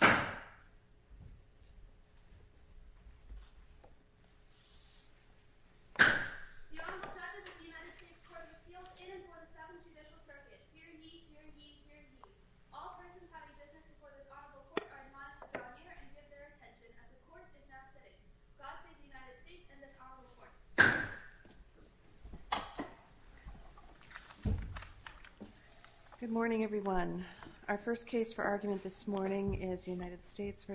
The Honorable Judges of the United States Courts of Appeals in and for the Seventh Judicial Circuit, hear ye, hear ye, hear ye. All persons having business before this Honorable Court are admonished to draw near and give their attention as the Court is now sitting. God save the United States and this Honorable Court. Good morning, everyone. Our first case for argument this morning is United States v.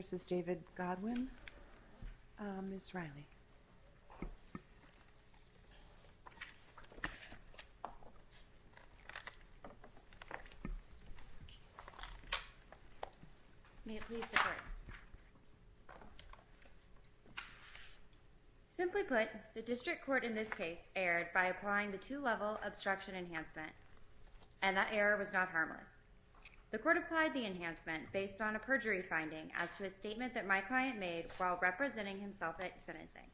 District Court in this case erred by applying the two-level obstruction enhancement, and that error was not harmless. The Court applied the enhancement based on a perjury finding as to a statement that my client made while representing himself at sentencing.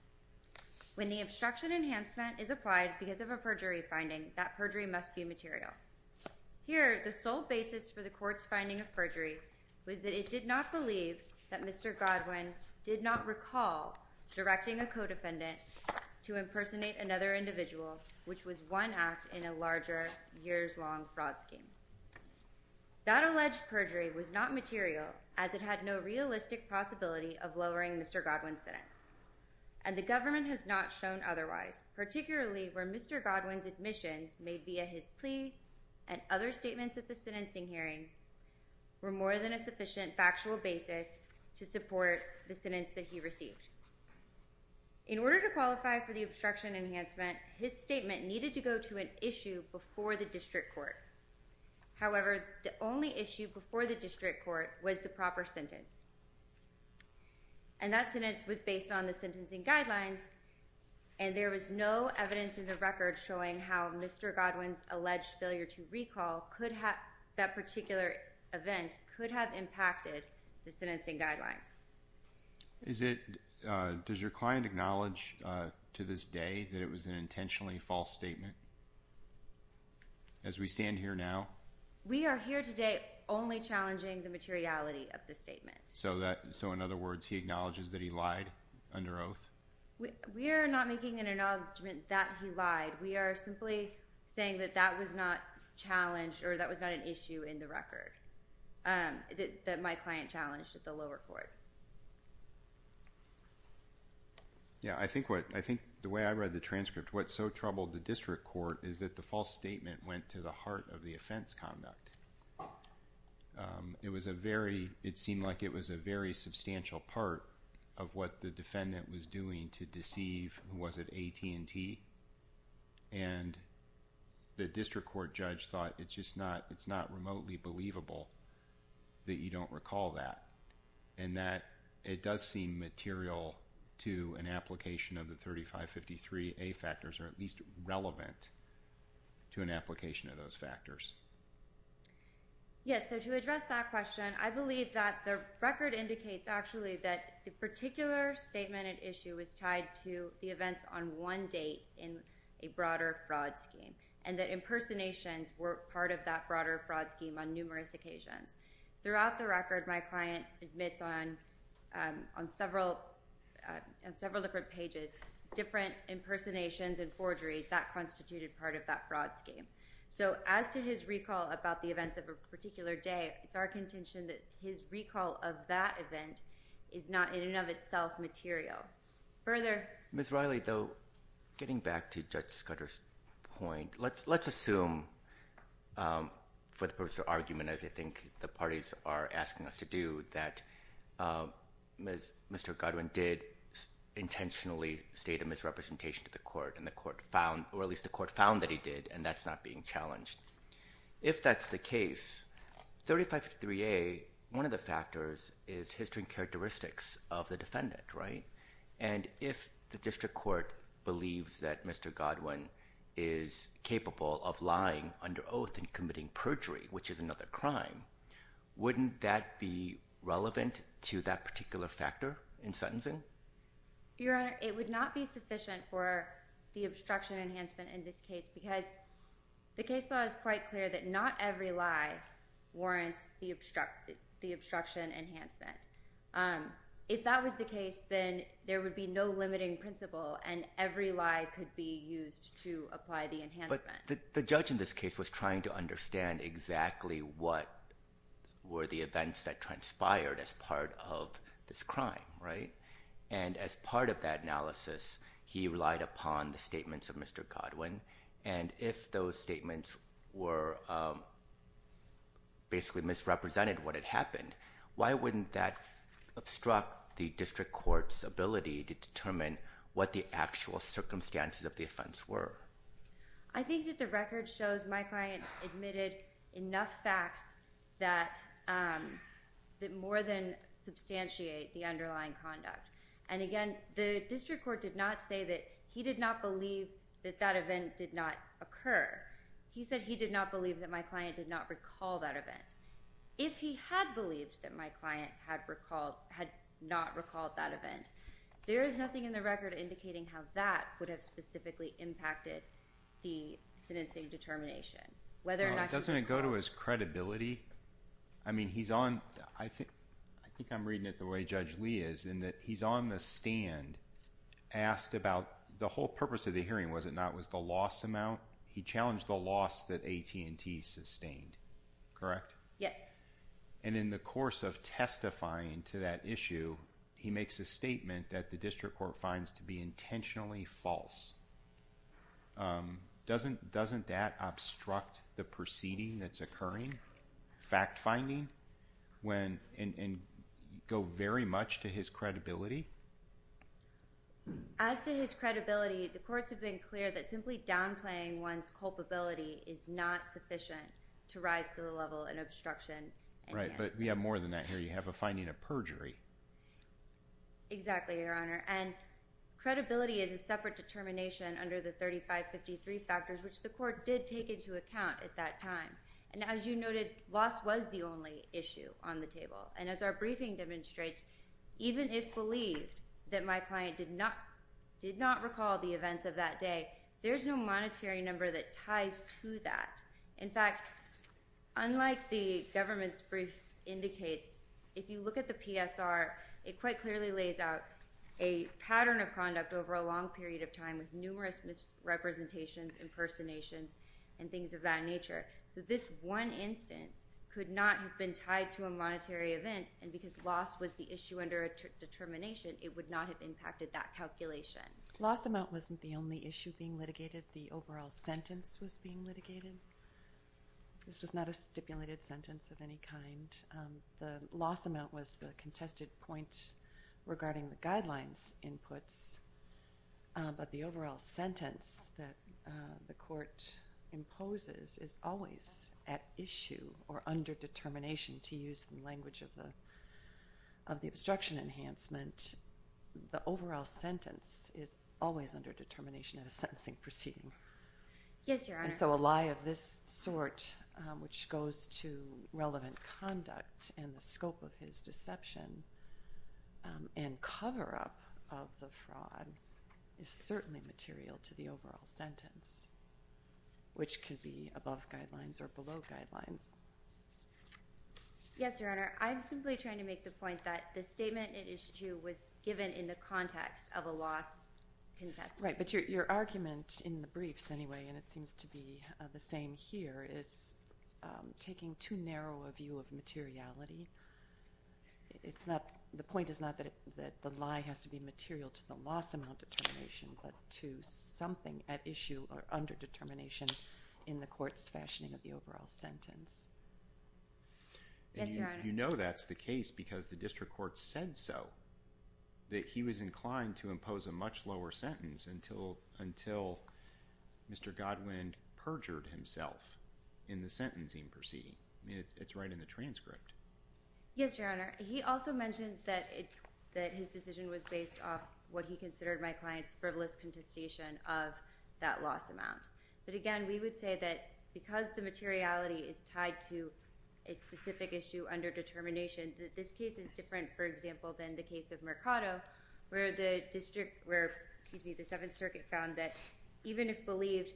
When the obstruction enhancement is applied because of a perjury finding, that perjury must be material. Here, the sole basis for the Court's finding of perjury was that it did not believe that Mr. Godwin did not recall directing a co-defendant to impersonate another individual, which was one act in a larger years-long fraud scheme. That alleged perjury was not material as it had no realistic possibility of lowering Mr. Godwin's sentence, and the government has not shown otherwise, particularly where Mr. Godwin's admissions made via his plea and other statements at the sentencing hearing were more than a sufficient factual basis to support the sentence that he received. In order to qualify for the obstruction enhancement, his statement needed to go to an issue before the District Court. However, the only issue before the District Court was the proper sentence, and that sentence was based on the sentencing that particular event could have impacted the sentencing guidelines. Does your client acknowledge to this day that it was an intentionally false statement? As we stand here now? We are here today only challenging the materiality of the statement. So in other words, he acknowledges that he lied under oath? We are not making an acknowledgment that he lied. We are simply saying that that was not challenged or that was not an issue in the record that my client challenged at the lower court. Yeah, I think the way I read the transcript, what so troubled the District Court is that the false statement went to the heart of the offense conduct. It was a very, it seemed like it was a very substantial part of what the defendant was doing to deceive who was at AT&T, and the District Court judge thought it's just not, it's not remotely believable that you don't recall that, and that it does seem material to an application of the 3553A factors or at least relevant to an application of those factors. Yes, so to address that question, I believe that the record indicates actually that the particular statement at issue is tied to the events on one date in a broader fraud scheme, and that impersonations were part of that broader fraud scheme on numerous occasions. Throughout the record, my client admits on several different pages, different impersonations and forgeries that constituted part of that fraud scheme. So as to his recall about the events of a particular day, it's our contention that his recall of that event is not in and of itself material. Further? Ms. Riley, though, getting back to Judge Scudder's point, let's assume for the purpose of argument, as I think the parties are asking us to do, that Mr. Godwin did intentionally state a misrepresentation to the court, or at least the court found that he did, and that's not being challenged. If that's the case, 3553A, one of the factors is history and characteristics of the defendant, right? And if the district court believes that Mr. Godwin is capable of lying under oath and committing perjury, which is another crime, wouldn't that be relevant to that particular factor in sentencing? Your Honor, it would not be sufficient for the obstruction enhancement in this case because the case law is quite clear that not every lie warrants the obstruction enhancement. If that was the case, then there would be no limiting principle and every lie could be used to apply the enhancement. But the judge in this case was trying to understand exactly what were the events that transpired as part of this crime, right? And as part of that analysis, he relied upon the statements of Mr. Godwin, and if those statements were basically misrepresented what had happened, why wouldn't that obstruct the district court's ability to determine what the actual circumstances of the offense were? I think that the record shows my client admitted enough facts that more than substantiate the underlying conduct, and again, the district court did not say that he did not believe that that event did not occur. He said he did not believe that my client did not recall that event. If he had believed that my client had not recalled that event, there is nothing in the record indicating how that would have specifically impacted the sentencing determination. Doesn't it go to his credibility? I mean, I think I'm reading it the way Judge Lee is in that he's on the stand, asked about the whole purpose of the hearing, was it not, was the loss amount. He challenged the loss that AT&T sustained, correct? Yes. And in the course of testifying to that issue, he makes a statement that the district court finds to be intentionally false. Doesn't that obstruct the proceeding that's occurring, fact-finding, and go very much to his credibility? As to his credibility, the courts have been clear that simply downplaying one's culpability is not sufficient to rise to the level of obstruction. Right, but we have more than that here. You have a finding of perjury. Exactly, Your Honor. And credibility is a separate determination under the 3553 factors, which the court did take into account at that time. And as you noted, loss was the only issue on the table. And as our briefing demonstrates, even if believed that my client did not recall the events of that day, there's no monetary number that ties to that. In fact, unlike the government's brief indicates, if you look at the PSR, it quite clearly lays out a pattern of conduct over a long period of time with numerous misrepresentations, impersonations, and things of that nature. So this one instance could not have been tied to a monetary event, and because loss was the issue under determination, it would not have impacted that calculation. Loss amount wasn't the only issue being litigated. The overall sentence was being litigated. This was not a stipulated sentence of any kind. The loss amount was the contested point regarding the guidelines inputs, but the overall sentence that the court imposes is always at issue or under determination to use the language of the obstruction enhancement. The overall sentence is always under determination in a sentencing proceeding. Yes, Your Honor. And so a lie of this sort which goes to relevant conduct and the scope of his deception and cover-up of the fraud is certainly material to the overall sentence, which could be above guidelines or below guidelines. Yes, Your Honor. I'm simply trying to make the point that the statement at issue was given in the context of a loss contested. Right, but your argument in the briefs anyway, and it seems to be the same here, is taking too narrow a view of materiality. The point is not that the lie has to be material to the loss amount determination but to something at issue or under determination in the court's fashioning of the overall sentence. Yes, Your Honor. You know that's the case because the district court said so, that he was inclined to impose a much lower sentence until Mr. Godwin perjured himself in the sentencing proceeding. I mean, it's right in the transcript. Yes, Your Honor. He also mentions that his decision was based off what he considered my client's frivolous contestation of that loss amount. But again, we would say that because the materiality is tied to a specific issue under determination, that this case is different, for example, than the case of Mercado where the district, where the Seventh Circuit found that even if believed,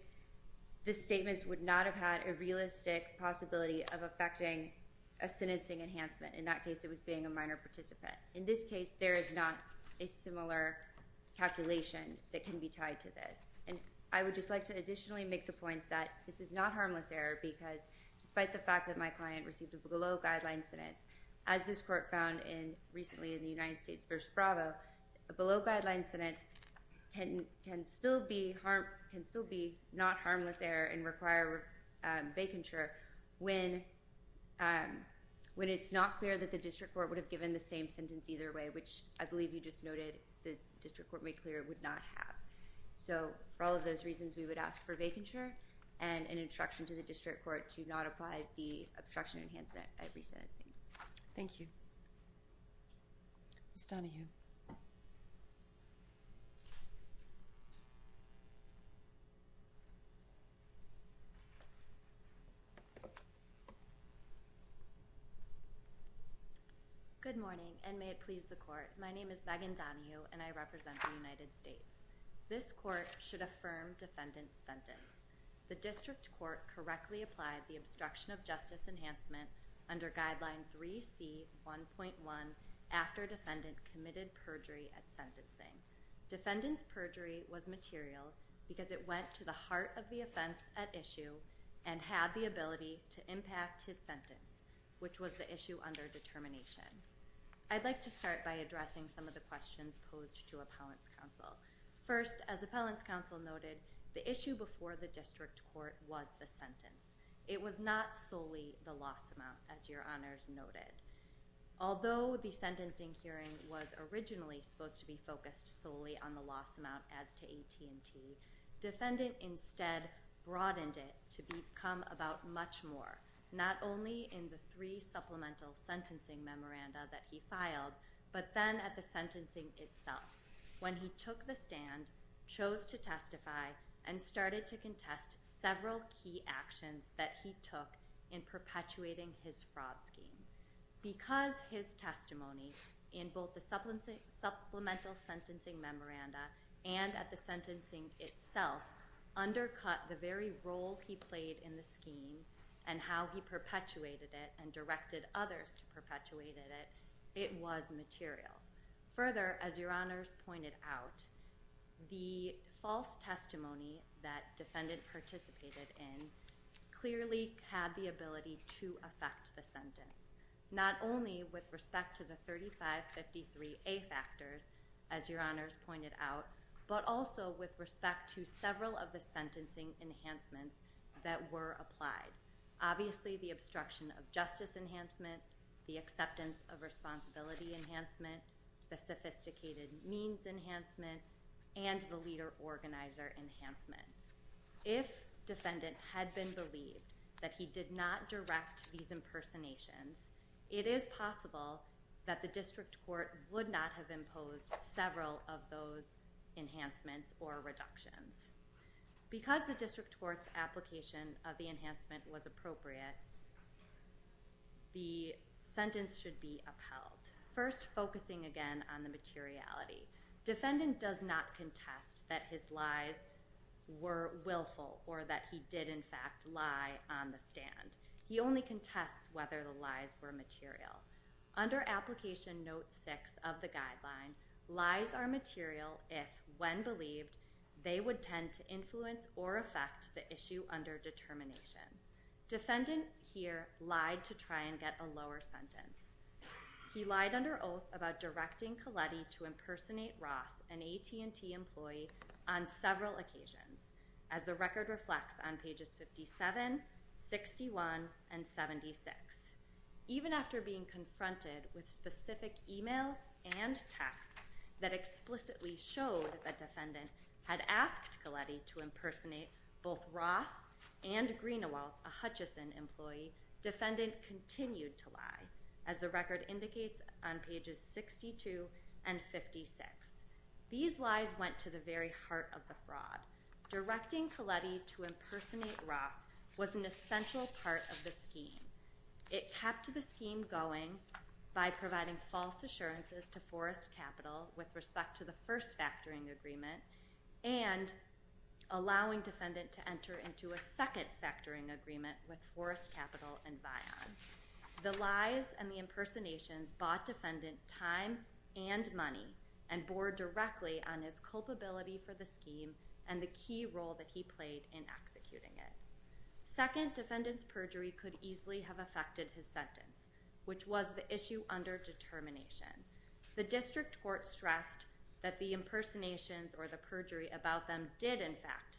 the statements would not have had a realistic possibility of affecting a sentencing enhancement. In that case, it was being a minor participant. In this case, there is not a similar calculation that can be tied to this. And I would just like to additionally make the point that this is not harmless error because despite the fact that my client received a below-guideline sentence, as this court found recently in the United States v. Bravo, a below-guideline sentence can still be not harmless error and require vacature when it's not clear that the district court would have given the same sentence either way, which I believe you just noted the district court made clear it would not have. So for all of those reasons, we would ask for vacature and an instruction to the district court to not apply the obstruction enhancement at resentencing. Thank you. Ms. Donahue. My name is Megan Donahue, and I represent the United States. This court should affirm defendant's sentence. The district court correctly applied the obstruction of justice enhancement under Guideline 3C.1.1 after defendant committed perjury at sentencing. Defendant's perjury was material because it went to the heart of the offense at issue and had the ability to impact his sentence, which was the issue under determination. I'd like to start by addressing some of the questions posed to appellant's counsel. First, as appellant's counsel noted, the issue before the district court was the sentence. It was not solely the loss amount, as your honors noted. Although the sentencing hearing was originally supposed to be focused solely on the loss amount as to AT&T, defendant instead broadened it to become about much more, not only in the three supplemental sentencing memoranda that he filed, but then at the sentencing itself. When he took the stand, chose to testify, and started to contest several key actions that he took in perpetuating his fraud scheme. Because his testimony in both the supplemental sentencing memoranda and at the sentencing itself undercut the very role he played in the scheme and how he perpetuated it and directed others to perpetuate it, it was material. Further, as your honors pointed out, the false testimony that defendant participated in clearly had the ability to affect the sentence. Not only with respect to the 3553A factors, as your honors pointed out, but also with respect to several of the sentencing enhancements that were applied. Obviously, the obstruction of justice enhancement, the acceptance of responsibility enhancement, the sophisticated means enhancement, and the leader-organizer enhancement. If defendant had been believed that he did not direct these impersonations, it is possible that the district court would not have imposed several of those enhancements or reductions. Because the district court's application of the enhancement was appropriate, the sentence should be upheld. First, focusing again on the materiality. Defendant does not contest that his lies were willful or that he did, in fact, lie on the stand. He only contests whether the lies were material. Under Application Note 6 of the guideline, lies are material if, when believed, they would tend to influence or affect the issue under determination. Defendant here lied to try and get a lower sentence. He lied under oath about directing Colletti to impersonate Ross, an AT&T employee, on several occasions. As the record reflects on pages 57, 61, and 76, even after being confronted with specific e-mails and texts that explicitly showed that defendant had asked Colletti to impersonate both Ross and Greenewalt, a Hutchison employee, defendant continued to lie, as the record indicates on pages 62 and 56. These lies went to the very heart of the fraud. Directing Colletti to impersonate Ross was an essential part of the scheme. It kept the scheme going by providing false assurances to Forrest Capital with respect to the first factoring agreement and allowing defendant to enter into a second factoring agreement with Forrest Capital and Vion. The lies and the impersonations bought defendant time and money and bore directly on his culpability for the scheme and the key role that he played in executing it. Second, defendant's perjury could easily have affected his sentence, which was the issue under determination. The district court stressed that the impersonations or the perjury about them did, in fact,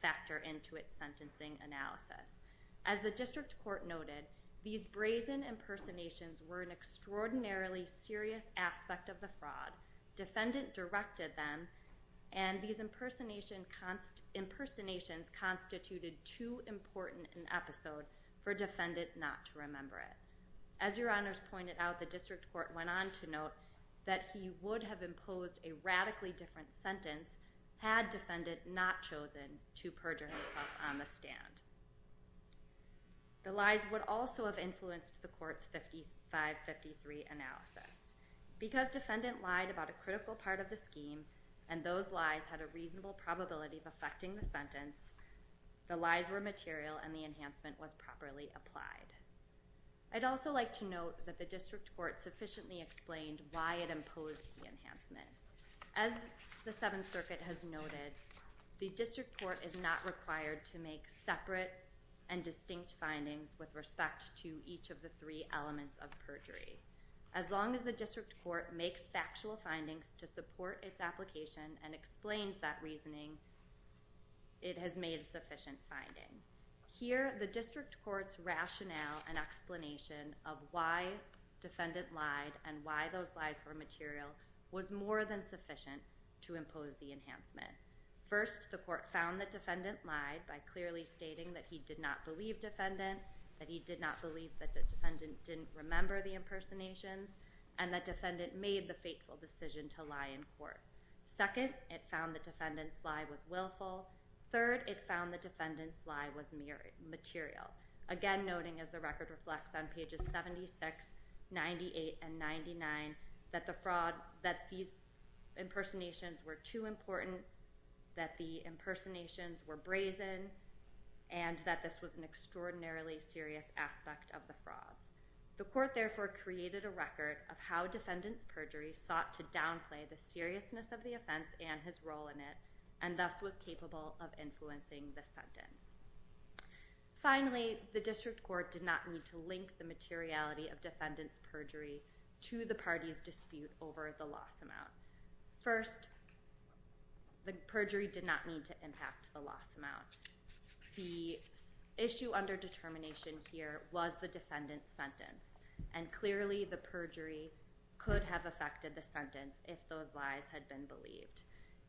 factor into its sentencing analysis. As the district court noted, these brazen impersonations were an extraordinarily serious aspect of the fraud. Defendant directed them, and these impersonations constituted too important an episode for defendant not to remember it. As your honors pointed out, the district court went on to note that he would have imposed a radically different sentence had defendant not chosen to perjure himself on the stand. The lies would also have influenced the court's 55-53 analysis. Because defendant lied about a critical part of the scheme and those lies had a reasonable probability of affecting the sentence, the lies were material and the enhancement was properly applied. I'd also like to note that the district court sufficiently explained why it imposed the enhancement. As the Seventh Circuit has noted, the district court is not required to make separate and distinct findings with respect to each of the three elements of perjury. As long as the district court makes factual findings to support its application and explains that reasoning, it has made a sufficient finding. Here, the district court's rationale and explanation of why defendant lied and why those lies were material was more than sufficient to impose the enhancement. First, the court found that defendant lied by clearly stating that he did not believe defendant, that he did not believe that the defendant didn't remember the impersonations, and that defendant made the fateful decision to lie in court. Second, it found that defendant's lie was willful. Third, it found that defendant's lie was mere material. Again, noting as the record reflects on pages 76, 98, and 99, that these impersonations were too important, that the impersonations were brazen, and that this was an extraordinarily serious aspect of the frauds. The court, therefore, created a record of how defendant's perjury sought to downplay the seriousness of the offense and his role in it, and thus was capable of influencing the sentence. Finally, the district court did not need to link the materiality of defendant's perjury to the party's dispute over the loss amount. First, the perjury did not need to impact the loss amount. The issue under determination here was the defendant's sentence, and clearly the perjury could have affected the sentence if those lies had been believed.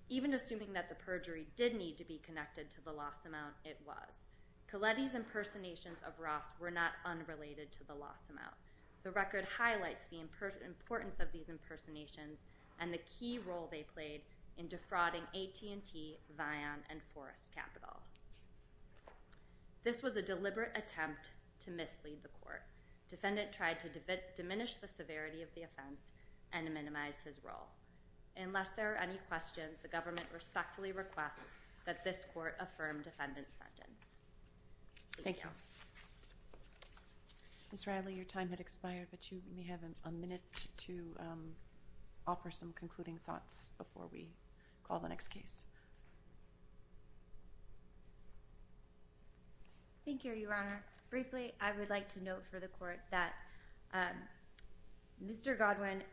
Even assuming that the perjury did need to be connected to the loss amount, it was. Colletti's impersonations of Ross were not unrelated to the loss amount. The record highlights the importance of these impersonations and the key role they played in defrauding AT&T, Vion, and Forest Capital. This was a deliberate attempt to mislead the court. Defendant tried to diminish the severity of the offense and minimize his role. Unless there are any questions, the government respectfully requests that this court affirm defendant's sentence. Thank you. Ms. Riley, your time has expired, but you may have a minute to offer some concluding thoughts before we call the next case. Thank you, Your Honor. Briefly, I would like to note for the court that Mr. Godwin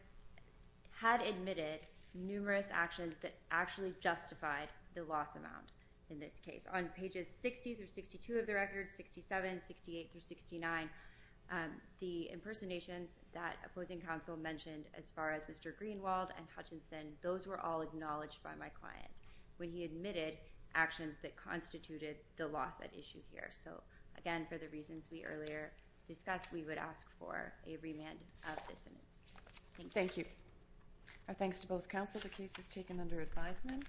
had admitted numerous actions that actually justified the loss amount in this case. On pages 60 through 62 of the record, 67, 68, through 69, the impersonations that opposing counsel mentioned as far as Mr. Greenwald and Hutchinson, those were all acknowledged by my client when he admitted actions that constituted the loss at issue here. So, again, for the reasons we earlier discussed, we would ask for a remand of this sentence. Thank you. Our thanks to both counsel. The case is taken under advisement.